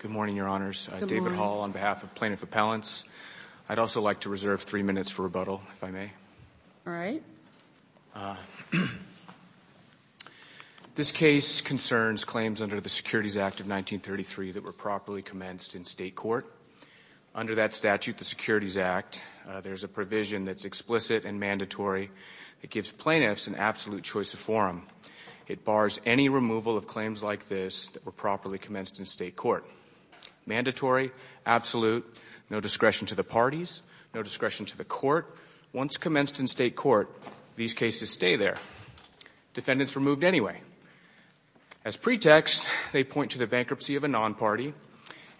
Good morning, your honors. I'm David Hall on behalf of plaintiff appellants. I'd also like to reserve three minutes for rebuttal if I may. All right This case concerns claims under the Securities Act of 1933 that were properly commenced in state court Under that statute the Securities Act There's a provision that's explicit and mandatory that gives plaintiffs an absolute choice of forum It bars any removal of claims like this that were properly commenced in state court Mandatory absolute no discretion to the parties. No discretion to the court once commenced in state court these cases stay there defendants removed anyway as Pretext they point to the bankruptcy of a non-party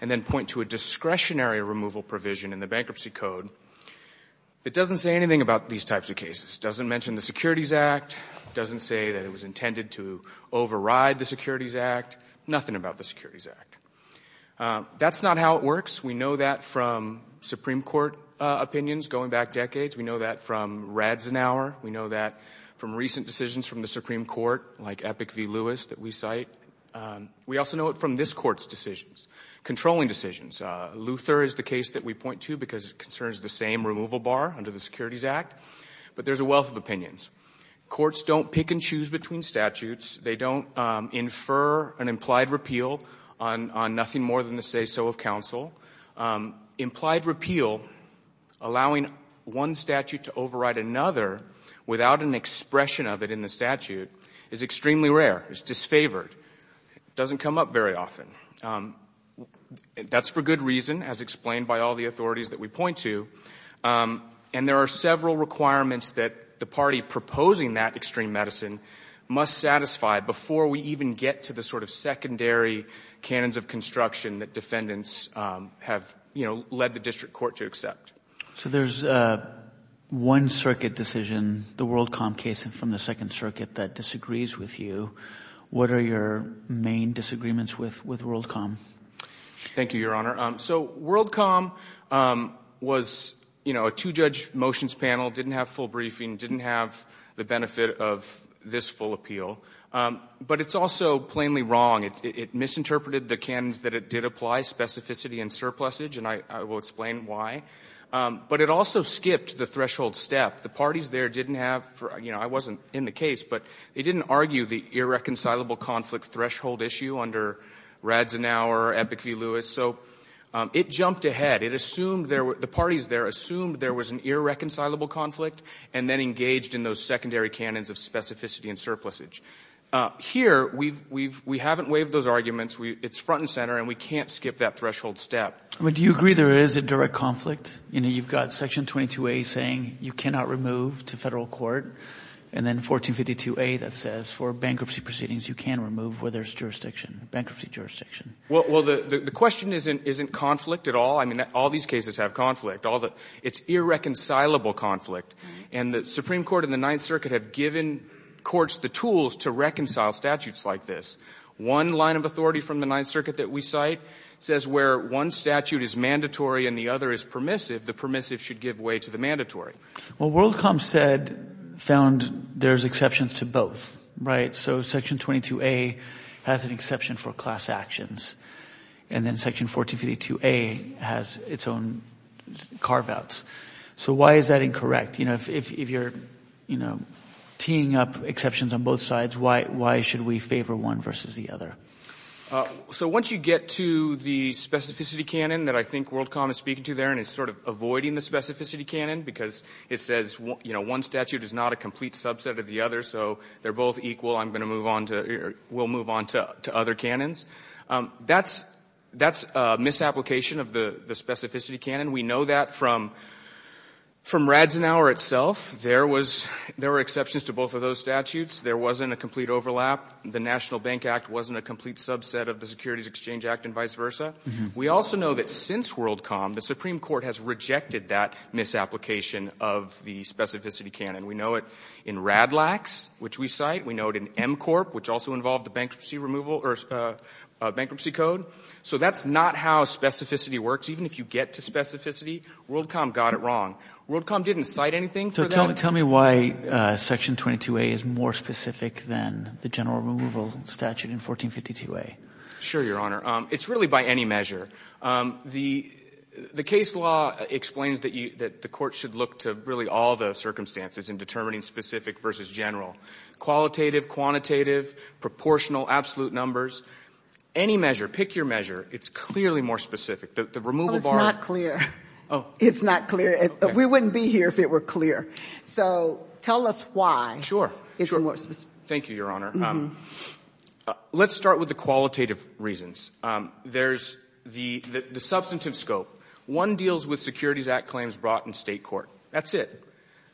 and then point to a discretionary removal provision in the bankruptcy code It doesn't say anything about these types of cases doesn't mention the Securities Act Doesn't say that it was intended to override the Securities Act nothing about the Securities Act That's not how it works. We know that from Supreme Court opinions going back decades. We know that from rads an hour We know that from recent decisions from the Supreme Court like epic v. Lewis that we cite We also know it from this court's decisions controlling decisions Luther is the case that we point to because it concerns the same removal bar under the Securities Act, but there's a wealth of opinions Courts don't pick and choose between statutes. They don't infer an implied repeal on Nothing more than to say so of counsel implied repeal Allowing one statute to override another without an expression of it in the statute is extremely rare. It's disfavored Doesn't come up very often That's for good reason as explained by all the authorities that we point to And there are several requirements that the party proposing that extreme medicine Must satisfy before we even get to the sort of secondary cannons of construction that defendants have, you know led the district court to accept so there's a One circuit decision the Worldcom case and from the Second Circuit that disagrees with you What are your main disagreements with with Worldcom? Thank you, Your Honor. So Worldcom Was you know a two-judge motions panel didn't have full briefing didn't have the benefit of this full appeal But it's also plainly wrong. It misinterpreted the cannons that it did apply specificity and surplus age and I will explain why But it also skipped the threshold step the parties there didn't have for you know I wasn't in the case, but they didn't argue the irreconcilable conflict threshold issue under Rads an hour epic v Lewis so it jumped ahead it assumed there were the parties there assumed there was an Irreconcilable conflict and then engaged in those secondary cannons of specificity and surplus age Here we've we've we haven't waived those arguments. We it's front and center and we can't skip that threshold step Would you agree there is a direct conflict? You know You've got section 22 a saying you cannot remove to federal court and then 1452 a that says for bankruptcy proceedings You can remove where there's jurisdiction bankruptcy jurisdiction. Well, the the question isn't isn't conflict at all I mean all these cases have conflict all the it's Irreconcilable conflict and the Supreme Court in the Ninth Circuit have given courts the tools to reconcile statutes like this one line of authority from the Ninth Circuit that we cite Says where one statute is mandatory and the other is permissive the permissive should give way to the mandatory Well WorldCom said found there's exceptions to both right so section 22a has an exception for class actions and Then section 1452 a has its own Carve-outs. So why is that incorrect? You know if you're you know teeing up exceptions on both sides Why why should we favor one versus the other? so once you get to the Specificity canon that I think WorldCom is speaking to there and it's sort of avoiding the specificity canon because it says Well, you know one statute is not a complete subset of the other so they're both equal I'm gonna move on to we'll move on to other canons That's that's a misapplication of the the specificity canon. We know that from From Radzen our itself. There was there were exceptions to both of those statutes There wasn't a complete overlap The National Bank Act wasn't a complete subset of the Securities Exchange Act and vice versa We also know that since WorldCom the Supreme Court has rejected that Misapplication of the specificity canon. We know it in rad lax, which we cite we know it in M Corp which also involved the bankruptcy removal or Bankruptcy code so that's not how specificity works Even if you get to specificity WorldCom got it wrong WorldCom didn't cite anything. So tell me tell me why Section 22a is more specific than the general removal statute in 1452 a sure your honor. It's really by any measure the The case law explains that you that the court should look to really all the circumstances in determining specific versus general qualitative quantitative proportional absolute numbers Any measure pick your measure it's clearly more specific the removal bar clear. Oh, it's not clear We wouldn't be here if it were clear. So tell us why sure. Thank you, Your Honor Let's start with the qualitative reasons There's the the substantive scope one deals with Securities Act claims brought in state court That's it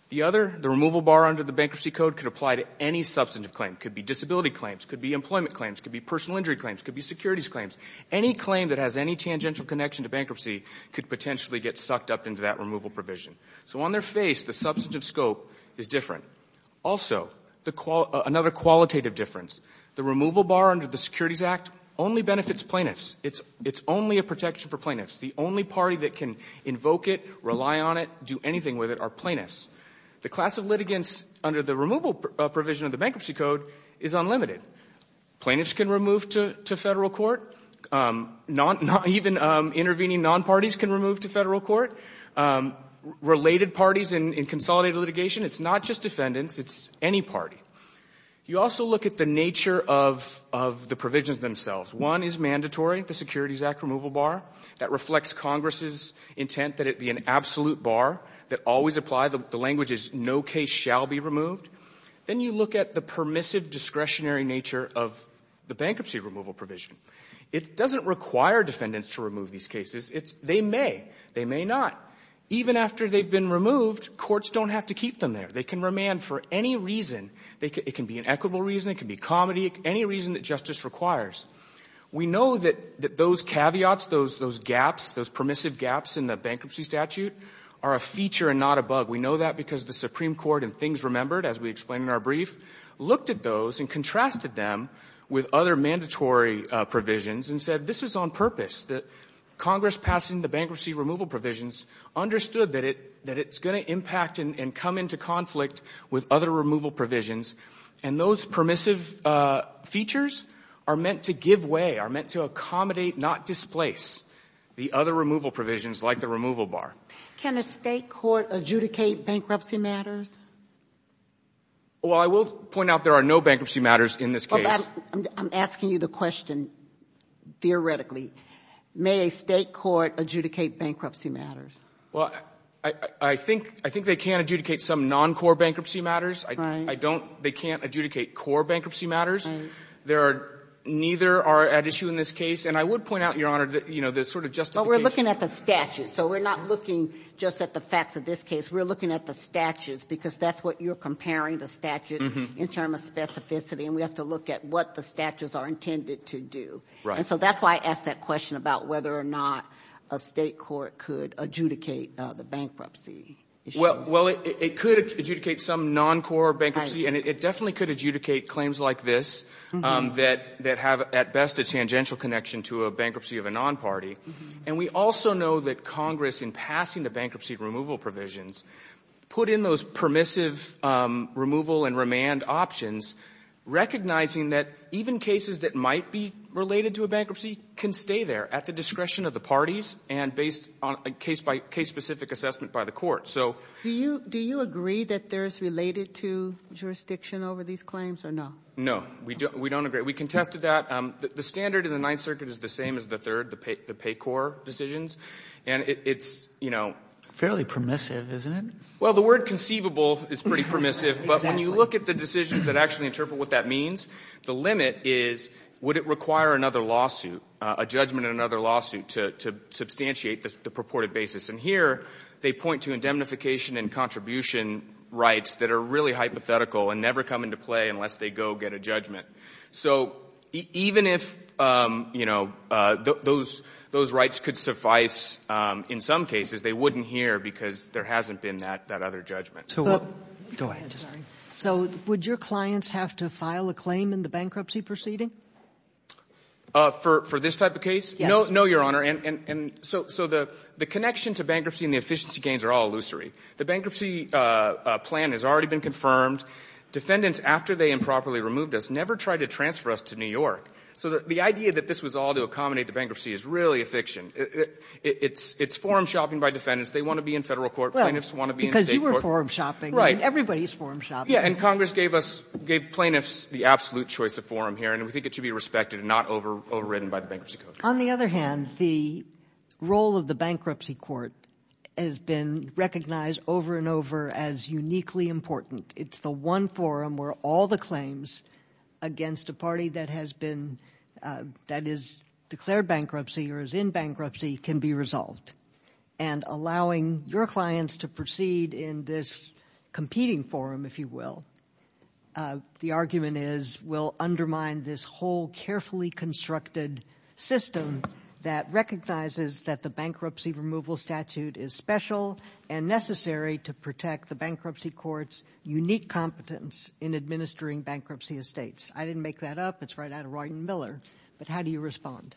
The other the removal bar under the bankruptcy code could apply to any Substantive claim could be disability claims could be employment claims could be personal injury claims could be securities claims any claim that has any tangential Connection to bankruptcy could potentially get sucked up into that removal provision. So on their face the substantive scope is different Also the call another qualitative difference the removal bar under the Securities Act only benefits plaintiffs It's it's only a protection for plaintiffs The only party that can invoke it rely on it do anything with it our plaintiffs The class of litigants under the removal provision of the bankruptcy code is unlimited Plaintiffs can remove to federal court Not not even intervening non parties can remove to federal court Related parties in consolidated litigation. It's not just defendants. It's any party you also look at the nature of The provisions themselves one is mandatory the Securities Act removal bar that reflects Congress's Intent that it be an absolute bar that always apply the language is no case shall be removed Then you look at the permissive discretionary nature of the bankruptcy removal provision It doesn't require defendants to remove these cases It's they may they may not even after they've been removed courts don't have to keep them there They can remand for any reason they can be an equitable reason. It can be comedy any reason that justice requires We know that that those caveats those those gaps those permissive gaps in the bankruptcy statute are a feature and not a bug We know that because the Supreme Court and things remembered as we explained in our brief Looked at those and contrasted them with other mandatory Provisions and said this is on purpose that Congress passing the bankruptcy removal provisions Understood that it that it's going to impact and come into conflict with other removal provisions and those permissive Features are meant to give way are meant to accommodate not displace The other removal provisions like the removal bar can a state court adjudicate bankruptcy matters Well, I will point out there are no bankruptcy matters in this case, I'm asking you the question Theoretically may a state court adjudicate bankruptcy matters Well, I I think I think they can't adjudicate some non core bankruptcy matters I don't they can't adjudicate core bankruptcy matters There are neither are at issue in this case and I would point out your honor that you know There's sort of just but we're looking at the statute. So we're not looking just at the facts of this case we're looking at the statutes because that's what you're comparing the statute in term of Specificity and we have to look at what the statutes are intended to do, right? So that's why I asked that question about whether or not a state court could adjudicate the bankruptcy Well, well, it could adjudicate some non core bankruptcy and it definitely could adjudicate claims like this That that have at best a tangential connection to a bankruptcy of a non party And we also know that Congress in passing the bankruptcy removal provisions put in those permissive removal and remand options recognizing that even cases that might be Related to a bankruptcy can stay there at the discretion of the parties and based on a case by case specific Assessment by the court. So do you do you agree that there's related to jurisdiction over these claims or no? We don't we don't agree we contested that the standard in the Ninth Circuit is the same as the third the pay the pay core decisions And it's you know, fairly permissive, isn't it? Well, the word conceivable is pretty permissive But when you look at the decisions that actually interpret what that means the limit is would it require another lawsuit a judgment in another lawsuit to Substantiate the purported basis and here they point to indemnification and contribution Rights that are really hypothetical and never come into play unless they go get a judgment. So even if You know those those rights could suffice In some cases they wouldn't hear because there hasn't been that that other judgment. So go ahead So would your clients have to file a claim in the bankruptcy proceeding? For for this type of case No, no, your honor And and so so the the connection to bankruptcy and the efficiency gains are all illusory the bankruptcy Plan has already been confirmed Defendants after they improperly removed us never tried to transfer us to New York So the idea that this was all to accommodate the bankruptcy is really a fiction It's it's forum shopping by defendants. They want to be in federal court plaintiffs want to be because you were forum shopping, right? Everybody's forum shop Yeah and Congress gave us gave plaintiffs the absolute choice of forum here and we think it should be respected and not over overridden by the bankruptcy code on the other hand the Role of the bankruptcy court has been recognized over and over as uniquely important It's the one forum where all the claims against a party that has been that is declared bankruptcy or is in bankruptcy can be resolved and Allowing your clients to proceed in this competing forum if you will The argument is will undermine this whole carefully constructed System that recognizes that the bankruptcy removal statute is special and Necessary to protect the bankruptcy courts unique competence in administering bankruptcy estates. I didn't make that up It's right out of Royden Miller. But how do you respond?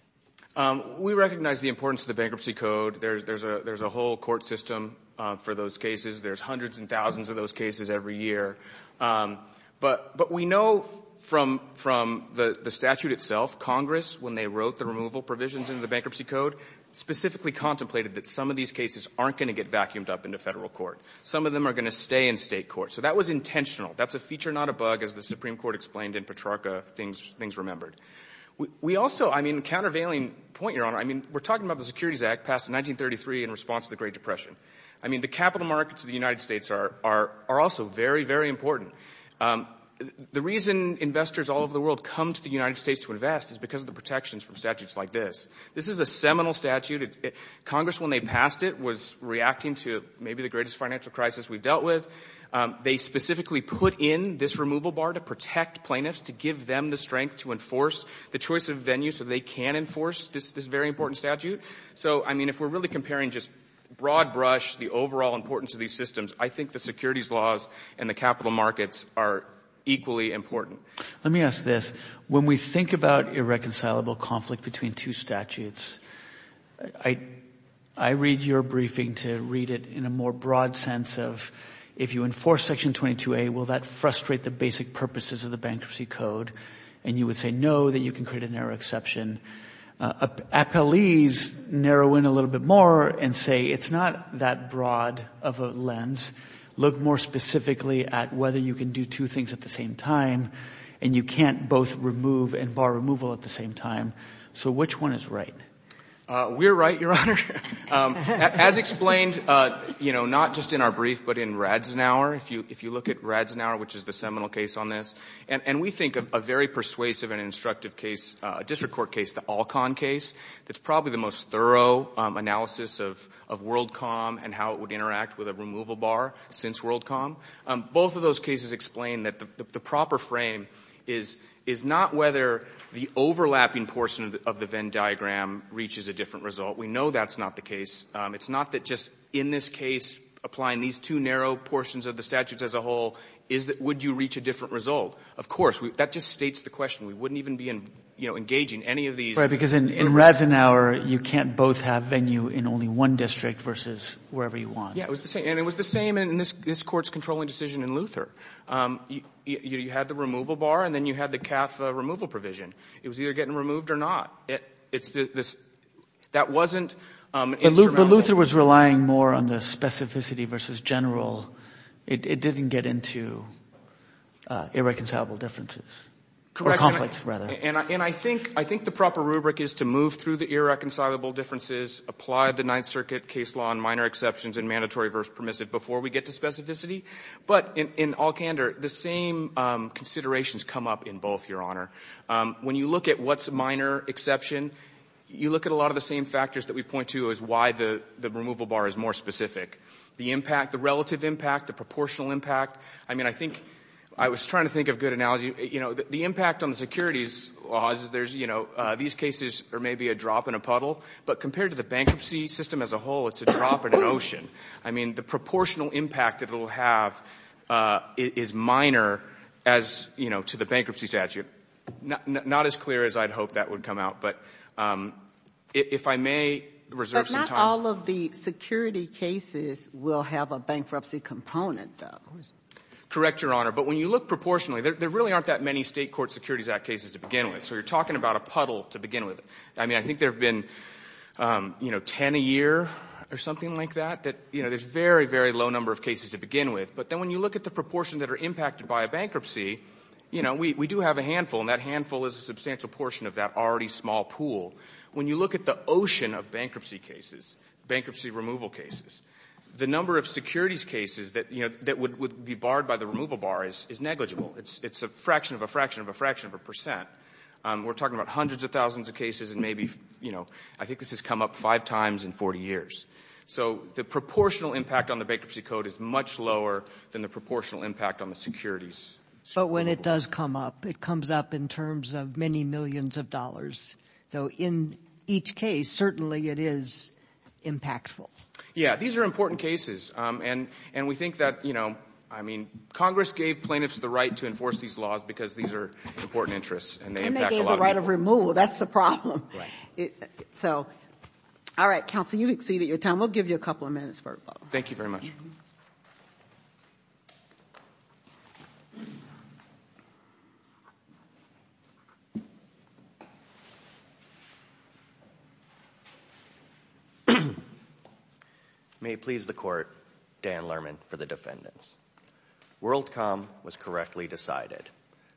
We recognize the importance of the bankruptcy code. There's there's a there's a whole court system for those cases There's hundreds and thousands of those cases every year But but we know from from the the statute itself Congress when they wrote the removal provisions into the bankruptcy code Specifically contemplated that some of these cases aren't going to get vacuumed up into federal court Some of them are going to stay in state court. So that was intentional That's a feature not a bug as the Supreme Court explained in Petrarca things things remembered We also I mean countervailing point your honor I mean, we're talking about the Securities Act passed in 1933 in response to the Great Depression I mean the capital markets of the United States are are are also very very important The reason investors all over the world come to the United States to invest is because of the protections from statutes like this This is a seminal statute it Congress when they passed it was reacting to maybe the greatest financial crisis we dealt with They specifically put in this removal bar to protect plaintiffs to give them the strength to enforce The choice of venue so they can enforce this this very important statute So, I mean if we're really comparing just broad-brush the overall importance of these systems I think the securities laws and the capital markets are Equally important. Let me ask this when we think about irreconcilable conflict between two statutes. I Read your briefing to read it in a more broad sense of if you enforce section 22a Will that frustrate the basic purposes of the bankruptcy code and you would say no that you can create an error exception Appellees Narrow in a little bit more and say it's not that broad of a lens Look more specifically at whether you can do two things at the same time And you can't both remove and bar removal at the same time. So which one is right? We're right your honor As explained, you know, not just in our brief But in rads an hour if you if you look at rads now, which is the seminal case on this And we think of a very persuasive and instructive case a district court case the all-con case that's probably the most thorough Analysis of of WorldCom and how it would interact with a removal bar since WorldCom both of those cases explain that the proper frame is is not whether the Overlapping portion of the Venn diagram reaches a different result. We know that's not the case It's not that just in this case Applying these two narrow portions of the statutes as a whole is that would you reach a different result? Of course, we that just states the question We wouldn't even be in you know Engaging any of these right because in rads an hour you can't both have venue in only one district versus wherever you want Yeah, it was the same and it was the same in this this courts controlling decision in Luther You had the removal bar and then you had the CAF removal provision. It was either getting removed or not. It's this that wasn't Luther was relying more on the specificity versus general. It didn't get into Irreconcilable differences Conflicts rather and I think I think the proper rubric is to move through the irreconcilable Differences apply the Ninth Circuit case law and minor exceptions and mandatory verse permissive before we get to specificity But in all candor the same Considerations come up in both your honor when you look at what's minor exception You look at a lot of the same factors that we point to is why the the removal bar is more specific The impact the relative impact the proportional impact I mean, I think I was trying to think of good analogy, you know The impact on the securities laws is there's you know, these cases or maybe a drop in a puddle But compared to the bankruptcy system as a whole, it's a drop in an ocean. I mean the proportional impact that it'll have is minor as you know to the bankruptcy statute not as clear as I'd hope that would come out but If I may reserve all of the security cases will have a bankruptcy component though Correct your honor, but when you look proportionally there really aren't that many state court Securities Act cases to begin with So you're talking about a puddle to begin with? I mean, I think there have been You know ten a year or something like that that you know There's very very low number of cases to begin with but then when you look at the proportion that are impacted by a bankruptcy You know We do have a handful and that handful is a substantial portion of that already small pool When you look at the ocean of bankruptcy cases Bankruptcy removal cases the number of securities cases that you know, that would be barred by the removal bar is is negligible It's it's a fraction of a fraction of a fraction of a percent We're talking about hundreds of thousands of cases and maybe you know, I think this has come up five times in 40 years So the proportional impact on the bankruptcy code is much lower than the proportional impact on the securities So when it does come up it comes up in terms of many millions of dollars. So in each case certainly it is Impactful. Yeah, these are important cases and and we think that you know I mean Congress gave plaintiffs the right to enforce these laws because these are important interests and they have a lot of removal That's the problem so All right counsel you exceeded your time we'll give you a couple of minutes for thank you very much May please the court Dan Lerman for the defendants World comm was correctly decided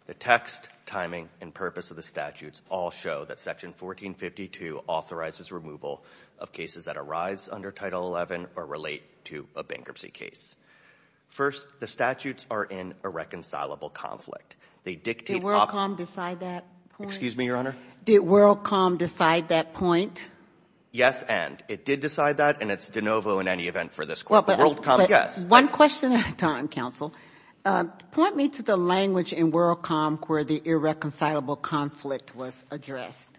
the text timing and purpose of the statutes all show that section 1452 authorizes removal of cases that arise under title 11 or relate to a bankruptcy case First the statutes are in a reconcilable conflict. They dictate Excuse me your honor the world calm decide that point Yes, and it did decide that and it's de novo in any event for this world. Yes one question at a time counsel Point me to the language in world calm where the irreconcilable conflict was addressed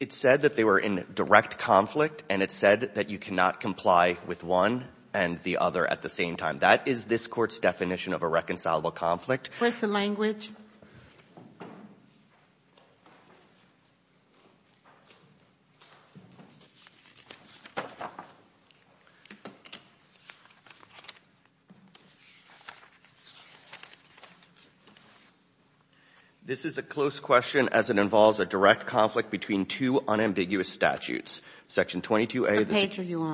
It Said that they were in direct conflict and it said that you cannot comply with one and the other at the same time That is this court's definition of a reconcilable conflict. Where's the language? This Is a close question as it involves a direct conflict between two unambiguous statutes section 22 a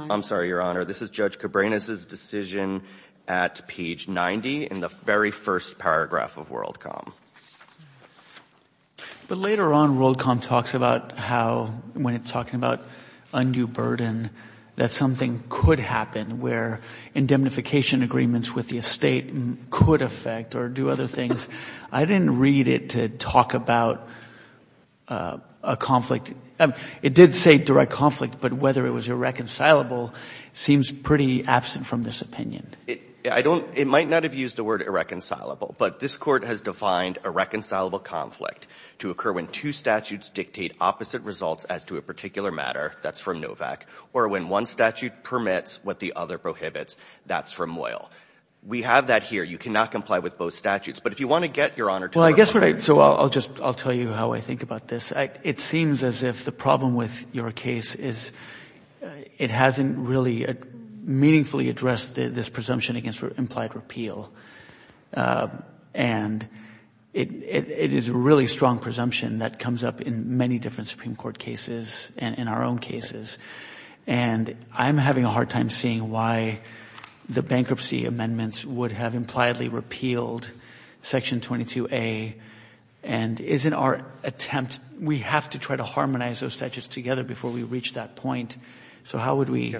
I'm sorry, your honor. This is judge Cabrera's decision at page 90 in the very first paragraph of world calm But later on world calm talks about how when it's talking about Undue burden that something could happen where indemnification agreements with the estate Could affect or do other things. I didn't read it to talk about A conflict and it did say direct conflict, but whether it was irreconcilable Seems pretty absent from this opinion I don't it might not have used the word Irreconcilable, but this court has defined a reconcilable conflict to occur when two statutes dictate opposite results as to a particular matter That's from Novak or when one statute permits what the other prohibits. That's from oil We have that here. You cannot comply with both statutes, but if you want to get your honor Well, I guess what I'd so I'll just I'll tell you how I think about this it seems as if the problem with your case is It hasn't really Meaningfully addressed this presumption against for implied repeal and it is a really strong presumption that comes up in many different Supreme Court cases and in our own cases and I'm having a hard time seeing why The bankruptcy amendments would have impliedly repealed section 22a and Isn't our attempt we have to try to harmonize those statutes together before we reach that point So, how would we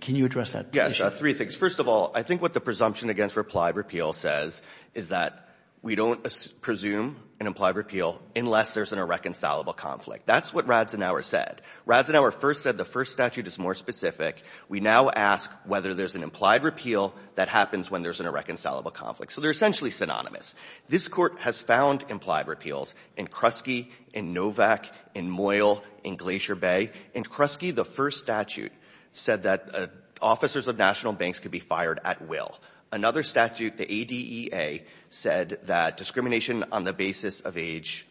Can you address that? Yes three things first of all I think what the presumption against replied repeal says is that we don't Presume an implied repeal unless there's an irreconcilable conflict That's what Rads an hour said Rads an hour first said the first statute is more specific We now ask whether there's an implied repeal that happens when there's an irreconcilable conflict So they're essentially synonymous This court has found implied repeals in Kresge in Novak in Moyle in Glacier Bay in Kresge the first statute Said that Officers of national banks could be fired at will another statute the ADEA said that discrimination on the basis of age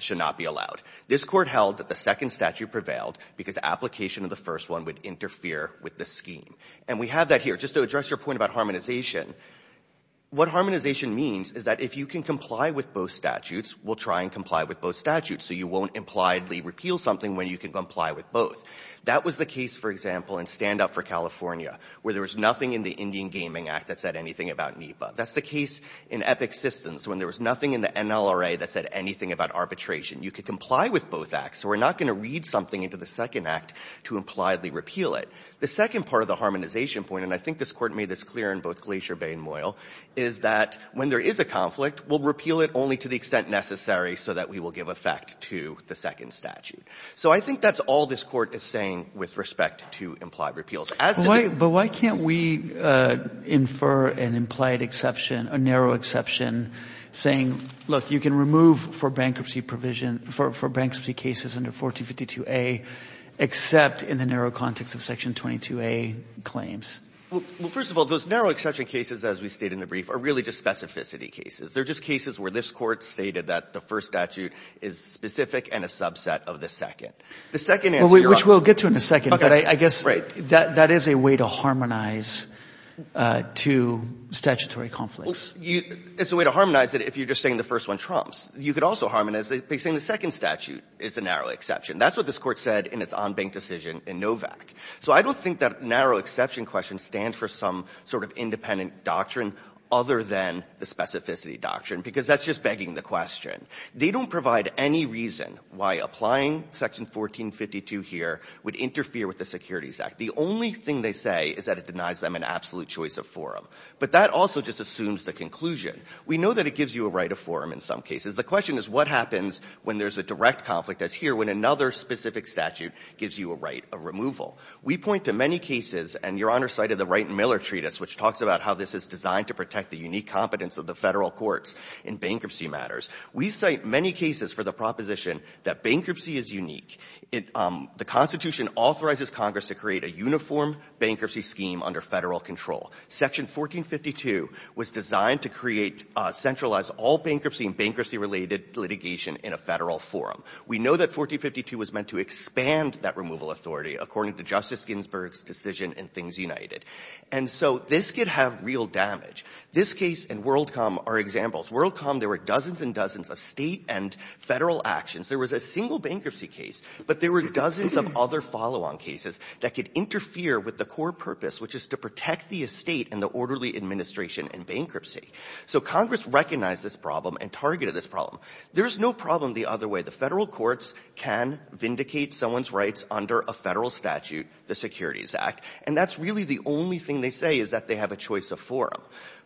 Should not be allowed this court held that the second statute prevailed because application of the first one would interfere with the scheme And we have that here just to address your point about harmonization What harmonization means is that if you can comply with both statutes will try and comply with both statutes So you won't impliedly repeal something when you can comply with both That was the case for example and stand up for California where there was nothing in the Indian Gaming Act that said anything about NEPA That's the case in epic systems when there was nothing in the NLRA that said anything about arbitration You could comply with both acts So we're not going to read something into the second act to impliedly repeal it the second part of the harmonization point And I think this court made this clear in both Glacier Bay and Moyle is that when there is a conflict We'll repeal it only to the extent necessary so that we will give effect to the second statute So I think that's all this court is saying with respect to implied repeals as why but why can't we? Infer an implied exception a narrow exception Saying look you can remove for bankruptcy provision for bankruptcy cases under 1452 a except in the narrow context of section 22 a Claims well first of all those narrow exception cases as we state in the brief are really just specificity cases They're just cases where this court stated that the first statute is Specific and a subset of the second the second which we'll get to in a second, but I guess right that that is a way to harmonize to Statutory conflicts you it's a way to harmonize it if you're just saying the first one trumps You could also harmonize they say in the second statute. It's a narrow exception That's what this court said in its on bank decision in Novak So I don't think that narrow exception question stands for some sort of independent doctrine other than the specificity doctrine Because that's just begging the question They don't provide any reason why applying section 1452 here would interfere with the Securities Act the only thing They say is that it denies them an absolute choice of forum, but that also just assumes the conclusion We know that it gives you a right of forum in some cases the question is what happens when there's a direct conflict as here When another specific statute gives you a right of removal We point to many cases and your honor cited the right and Miller treatise which talks about how this is designed to protect the unique Competence of the federal courts in bankruptcy matters. We cite many cases for the proposition that bankruptcy is unique It the Constitution authorizes Congress to create a uniform bankruptcy scheme under federal control Section 1452 was designed to create Centralize all bankruptcy and bankruptcy related litigation in a federal forum We know that 1452 was meant to expand that removal authority according to Justice Ginsburg's decision and things united And so this could have real damage this case and WorldCom are examples WorldCom There were dozens and dozens of state and federal actions There was a single bankruptcy case But there were dozens of other follow-on cases that could interfere with the core purpose Which is to protect the estate and the orderly administration and bankruptcy So Congress recognized this problem and targeted this problem There's no problem the other way the federal courts can Vindicate someone's rights under a federal statute the Securities Act and that's really the only thing they say is that they have a choice of forum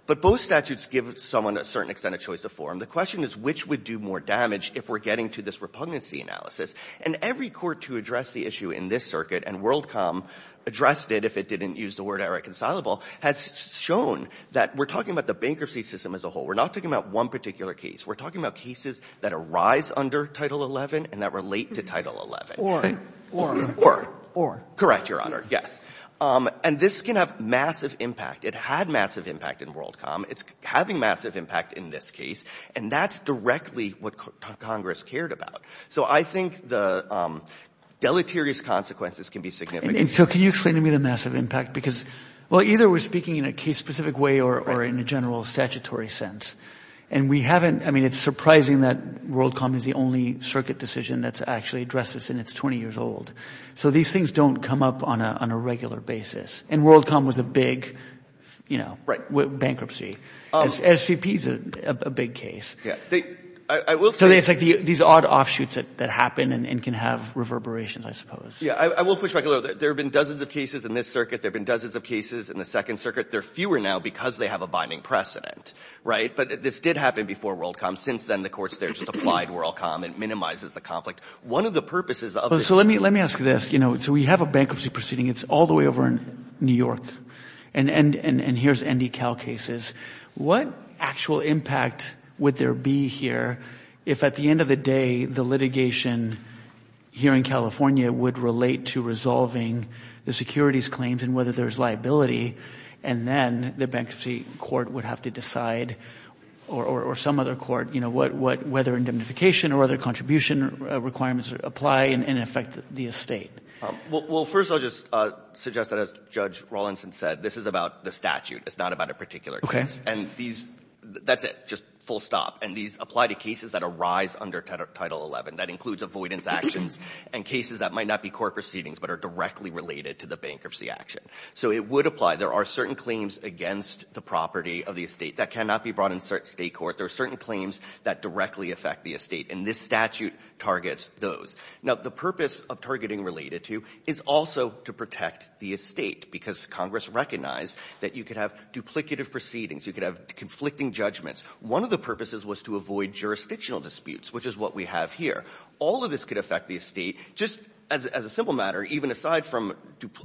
But both statutes give someone a certain extent of choice of forum The question is which would do more damage if we're getting to this Repugnancy analysis and every court to address the issue in this circuit and WorldCom Addressed it if it didn't use the word irreconcilable has shown that we're talking about the bankruptcy system as a whole We're not talking about one particular case We're talking about cases that arise under title 11 and that relate to title 11 or or or or correct your honor Yes, and this can have massive impact. It had massive impact in WorldCom it's having massive impact in this case, and that's directly what Congress cared about so I think the Deleterious consequences can be significant So can you explain to me the massive impact because well either we're speaking in a case-specific way or in a general statutory sense And we haven't I mean it's surprising that WorldCom is the only circuit decision that's actually addresses in its 20 years old So these things don't come up on a regular basis and WorldCom was a big You know, right bankruptcy SCP is a big case. Yeah These odd offshoots that that happen and can have reverberations, I suppose. Yeah, I will push back There have been dozens of cases in this circuit. There've been dozens of cases in the Second Circuit They're fewer now because they have a binding precedent, right? But this did happen before WorldCom since then the courts there just applied WorldCom and minimizes the conflict one of the purposes Oh, so let me let me ask this, you know, so we have a bankruptcy proceeding It's all the way over in New York and and and and here's ND Cal cases What actual impact would there be here if at the end of the day the litigation here in California would relate to resolving the securities claims and whether there's liability and Then the bankruptcy court would have to decide or or some other court, you know What what whether indemnification or other contribution requirements apply and in effect the estate? Well, first I'll just suggest that as judge Rawlinson said this is about the statute. It's not about a particular Okay, and these that's it just full stop and these apply to cases that arise under title 11 That includes avoidance actions and cases that might not be court proceedings, but are directly related to the bankruptcy action So it would apply there are certain claims against the property of the estate that cannot be brought in certain state court There are certain claims that directly affect the estate and this statute targets those now the purpose of targeting related to is also to protect the estate because Congress recognized that you could have Duplicative proceedings you could have conflicting judgments. One of the purposes was to avoid jurisdictional disputes Which is what we have here. All of this could affect the estate just as a simple matter even aside from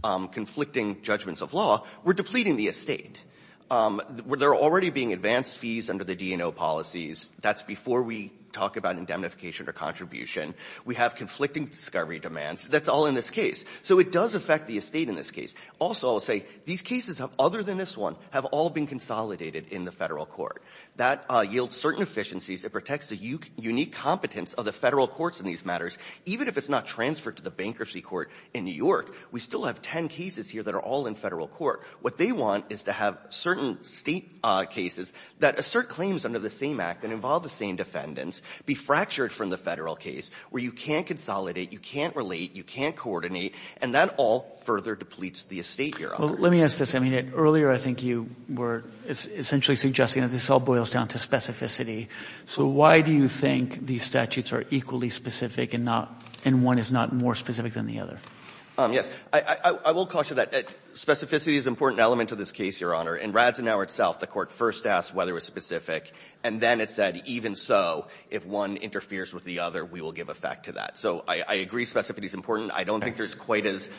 Conflicting judgments of law. We're depleting the estate Where they're already being advanced fees under the DNO policies. That's before we talk about indemnification or contribution We have conflicting discovery demands. That's all in this case. So it does affect the estate in this case Also, I'll say these cases have other than this one have all been consolidated in the federal court that yields certain efficiencies It protects the unique competence of the federal courts in these matters Even if it's not transferred to the bankruptcy court in New York We still have ten cases here that are all in federal court What they want is to have certain state cases that assert claims under the same act and involve the same Defendants be fractured from the federal case where you can't consolidate. You can't relate You can't coordinate and that all further depletes the estate here. Well, let me ask this. I mean it earlier I think you were essentially suggesting that this all boils down to specificity So why do you think these statutes are equally specific and not and one is not more specific than the other? Yes, I will caution that Specificity is important element of this case your honor in Radzenauer itself The court first asked whether it was specific and then it said even so if one interferes with the other we will give effect To that. So I agree specificity is important. I don't think there's quite as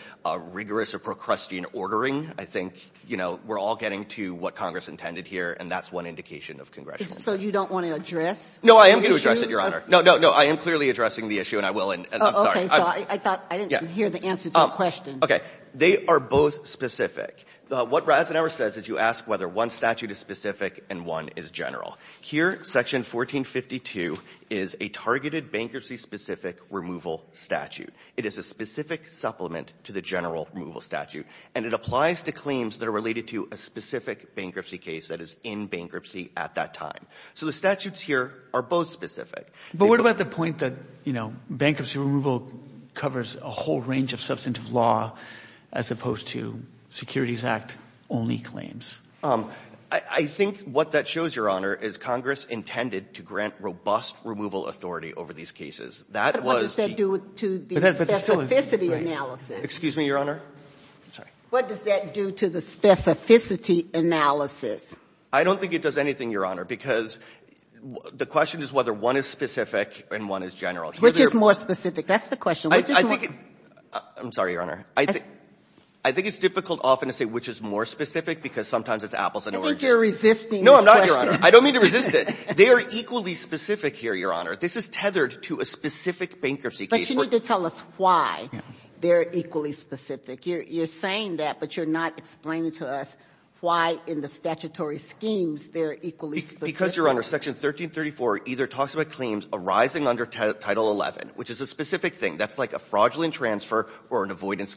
Rigorous or procrustean ordering I think you know, we're all getting to what Congress intended here and that's one indication of Congress So you don't want to address? No, I am gonna address it your honor. No, no No, I am clearly addressing the issue and I will and I'm sorry Okay, they are both specific what Radzenauer says is you ask whether one statute is specific and one is general here section 1452 is a targeted bankruptcy specific removal statute It is a specific supplement to the general removal statute and it applies to claims that are related to a specific Bankruptcy case that is in bankruptcy at that time. So the statutes here are both specific but what about the point that you know bankruptcy removal covers a whole range of substantive law as opposed to To grant robust removal authority over these cases that was Excuse me, your honor What does that do to the specificity analysis? I don't think it does anything your honor because The question is whether one is specific and one is general which is more specific. That's the question. I think I'm sorry, your honor. I think I think it's difficult often to say which is more specific because sometimes it's apples No, I don't mean to resist it they are equally specific here your honor This is tethered to a specific bankruptcy, but you need to tell us why they're equally specific You're saying that but you're not explaining to us why in the statutory schemes They're equally because you're under section 1334 either talks about claims arising under title 11, which is a specific thing That's like a fraudulent transfer or an avoidance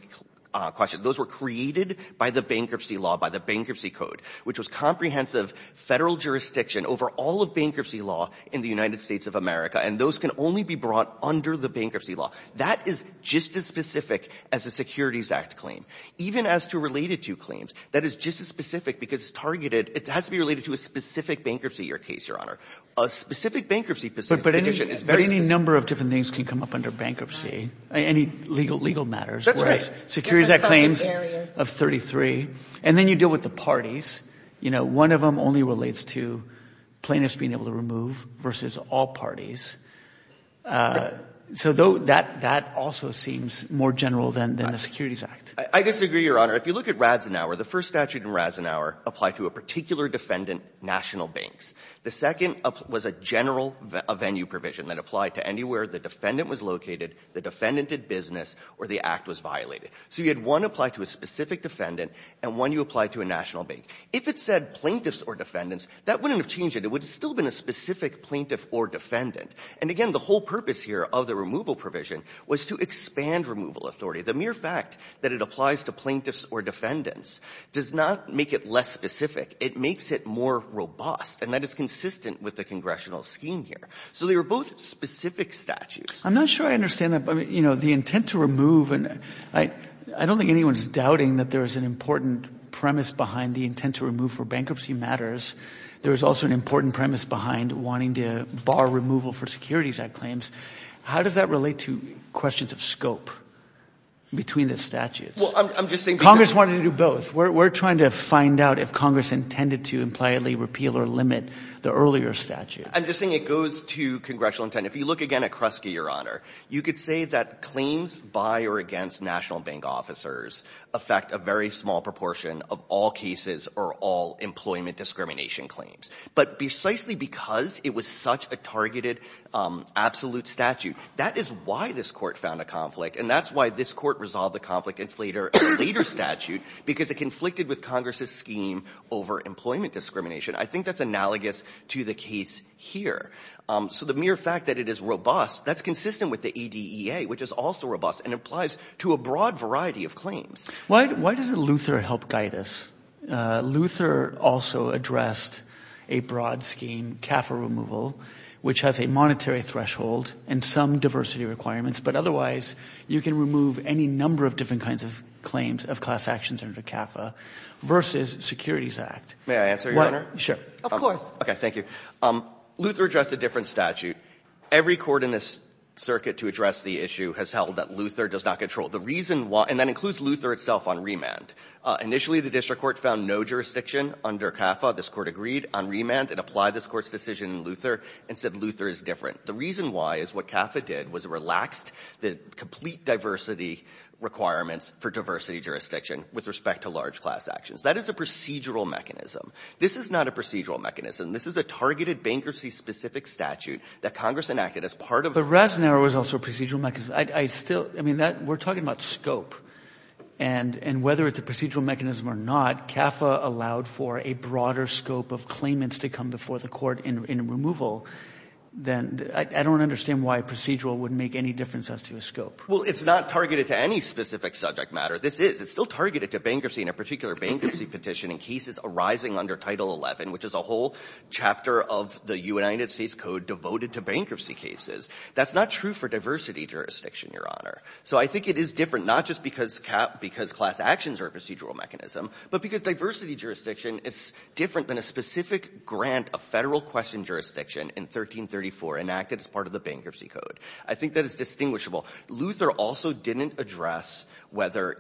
Question those were created by the bankruptcy law by the bankruptcy code Which was comprehensive federal jurisdiction over all of bankruptcy law in the United States of America And those can only be brought under the bankruptcy law that is just as specific as a Securities Act claim even as to related to claims that is just as specific because it's targeted it has to be related to a specific bankruptcy your case your Honor a specific bankruptcy position is very any number of different things can come up under bankruptcy any legal legal matters Securities that claims of 33 and then you deal with the parties, you know, one of them only relates to plaintiffs being able to remove versus all parties So though that that also seems more general than the Securities Act I disagree your honor If you look at rads an hour the first statute in rads an hour apply to a particular defendant National banks the second was a general a venue provision that applied to anywhere Defendant was located the defendant did business or the act was violated So you had one apply to a specific defendant and when you apply to a national bank if it said plaintiffs or defendants that wouldn't Have changed it It would still been a specific plaintiff or defendant and again the whole purpose here of the removal provision was to expand Removal authority the mere fact that it applies to plaintiffs or defendants does not make it less specific It makes it more robust and that is consistent with the congressional scheme here So they were both specific statutes I'm not sure I understand that but you know the intent to remove and I I don't think anyone's doubting that there is an important Premise behind the intent to remove for bankruptcy matters There is also an important premise behind wanting to bar removal for Securities Act claims. How does that relate to questions of scope? Between the statute. Well, I'm just saying Congress wanted to do both We're trying to find out if Congress intended to impliedly repeal or limit the earlier statute I'm just saying it goes to congressional intent If you look again at Kresge your honor, you could say that claims by or against national bank officers Affect a very small proportion of all cases or all employment discrimination claims But precisely because it was such a targeted Absolute statute that is why this court found a conflict and that's why this court resolved the conflict inflator Later statute because it conflicted with Congress's scheme over employment discrimination I think that's analogous to the case here So the mere fact that it is robust that's consistent with the EDEA which is also robust and applies to a broad variety of claims Why why does it Luther help guide us? Luther also addressed a broad scheme CAFA removal, which has a monetary threshold and some diversity requirements But otherwise you can remove any number of different kinds of claims of class actions under CAFA Versus Securities Act. May I answer your honor? Sure. Of course. Okay. Thank you Luther addressed a different statute Every court in this circuit to address the issue has held that Luther does not control the reason why and that includes Luther itself on remand Initially the district court found no jurisdiction under CAFA This court agreed on remand and applied this court's decision in Luther and said Luther is different The reason why is what CAFA did was relaxed the complete diversity Requirements for diversity jurisdiction with respect to large class actions. That is a procedural mechanism. This is not a procedural mechanism This is a targeted bankruptcy specific statute that Congress enacted as part of the Razzanero is also procedural mechanism I still I mean that we're talking about scope and And whether it's a procedural mechanism or not CAFA allowed for a broader scope of claimants to come before the court in removal Then I don't understand why procedural would make any difference as to a scope Well, it's not targeted to any specific subject matter This is it's still targeted to bankruptcy in a particular bankruptcy petition in cases arising under title 11 Which is a whole chapter of the United States Code devoted to bankruptcy cases. That's not true for diversity jurisdiction your honor So I think it is different not just because cap because class actions are a procedural mechanism But because diversity jurisdiction is different than a specific grant a federal question jurisdiction in 1334 enacted as part of the bankruptcy code. I think that is distinguishable Luther also didn't address whether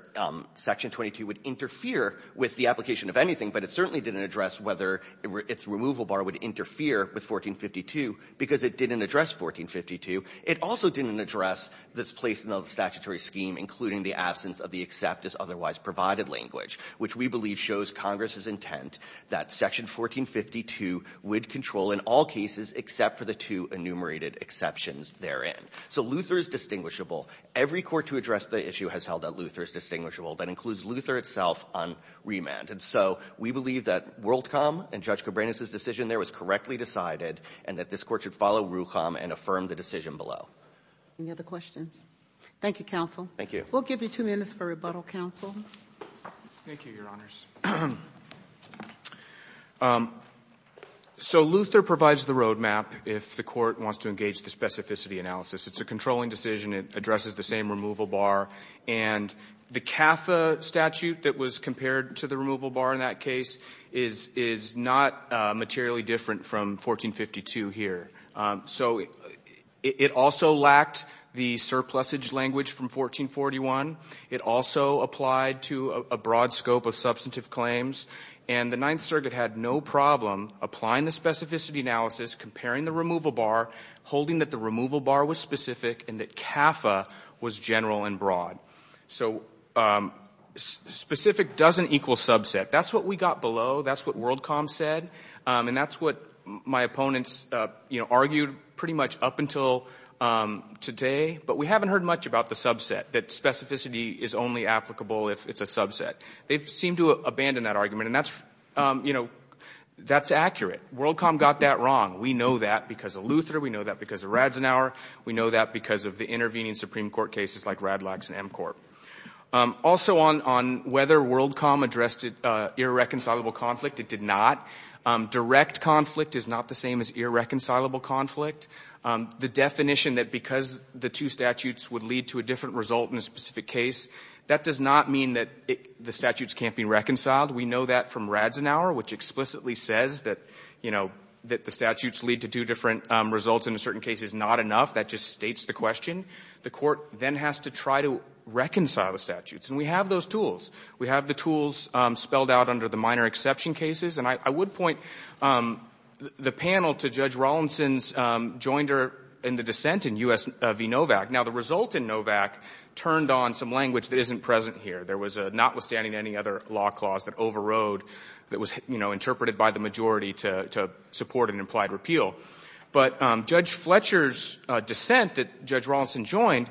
Section 22 would interfere with the application of anything But it certainly didn't address whether it's removal bar would interfere with 1452 because it didn't address 1452 it also didn't address this place in the statutory scheme including the absence of the except as otherwise provided language Which we believe shows Congress's intent that section 1452 would control in all cases Except for the two enumerated exceptions therein So Luther is distinguishable every court to address the issue has held that Luther is distinguishable that includes Luther itself on Remand and so we believe that Worldcom and judge Cabrera's his decision There was correctly decided and that this court should follow rucham and affirm the decision below Any other questions? Thank you counsel. Thank you. We'll give you two minutes for rebuttal counsel Thank you your honors So Luther provides the roadmap if the court wants to engage the specificity analysis, it's a controlling decision it addresses the same removal bar and The CAFA statute that was compared to the removal bar in that case is is not materially different from 1452 here, so It also lacked the surplus age language from 1441 It also applied to a broad scope of substantive claims and the Ninth Circuit had no problem Applying the specificity analysis comparing the removal bar holding that the removal bar was specific and that CAFA was general and broad so Specific doesn't equal subset. That's what we got below That's what Worldcom said and that's what my opponents, you know argued pretty much up until Today but we haven't heard much about the subset that specificity is only applicable if it's a subset They've seemed to abandon that argument and that's you know, that's accurate Worldcom got that wrong We know that because of Luther we know that because of Radzenour We know that because of the intervening Supreme Court cases like Radlag's and M Corp Also on on whether Worldcom addressed it irreconcilable conflict. It did not Direct conflict is not the same as irreconcilable conflict The definition that because the two statutes would lead to a different result in a specific case That does not mean that the statutes can't be reconciled We know that from Radzenour which explicitly says that you know that the statutes lead to two different Results in a certain case is not enough that just states the question the court then has to try to Reconcile the statutes and we have those tools. We have the tools spelled out under the minor exception cases, and I would point The panel to Judge Rawlinson's Joined her in the dissent in US v. Novak now the result in Novak Turned on some language that isn't present here There was a notwithstanding any other law clause that overrode that was, you know Interpreted by the majority to support an implied repeal but Judge Fletcher's dissent that Judge Rawlinson joined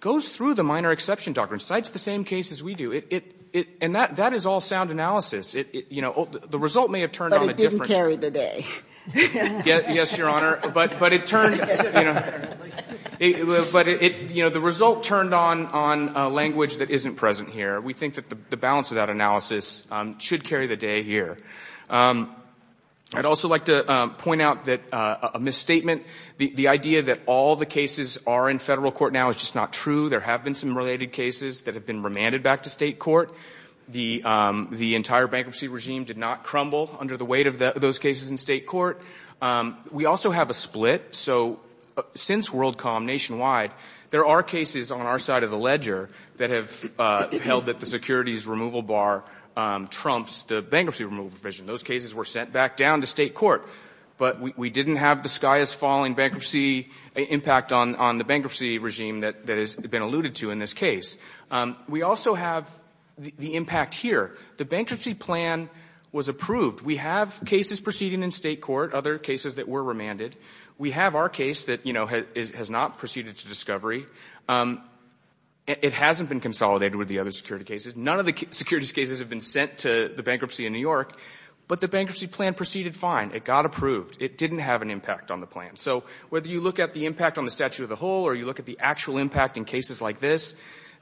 Goes through the minor exception doctrine cites the same case as we do it it and that that is all sound analysis You know the result may have turned on a different day Yes, your honor, but but it turned But it you know the result turned on on language that isn't present here We think that the balance of that analysis should carry the day here I'd also like to point out that a Misstatement the idea that all the cases are in federal court now is just not true there have been some related cases that have been remanded back to state court the The entire bankruptcy regime did not crumble under the weight of those cases in state court We also have a split. So Since Worldcom nationwide, there are cases on our side of the ledger that have held that the securities removal bar Trump's the bankruptcy removal provision those cases were sent back down to state court But we didn't have the sky is falling bankruptcy impact on on the bankruptcy regime that that has been alluded to in this case We also have the impact here the bankruptcy plan was approved We have cases proceeding in state court other cases that were remanded. We have our case that you know has not proceeded to discovery It hasn't been consolidated with the other security cases None of the securities cases have been sent to the bankruptcy in New York, but the bankruptcy plan proceeded fine It got approved it didn't have an impact on the plan So whether you look at the impact on the statute of the whole or you look at the actual impact in cases like this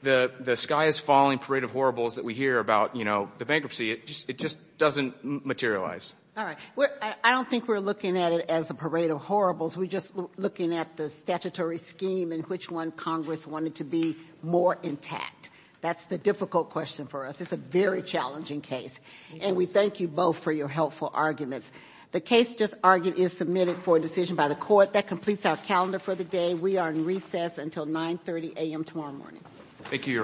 The the sky is falling parade of horribles that we hear about, you know, the bankruptcy. It just it just doesn't materialize All right. Well, I don't think we're looking at it as a parade of horribles We're just looking at the statutory scheme in which one Congress wanted to be more intact. That's the difficult question for us It's a very challenging case and we thank you both for your helpful arguments The case just argued is submitted for a decision by the court that completes our calendar for the day Until 9 30 a.m. Tomorrow morning, thank you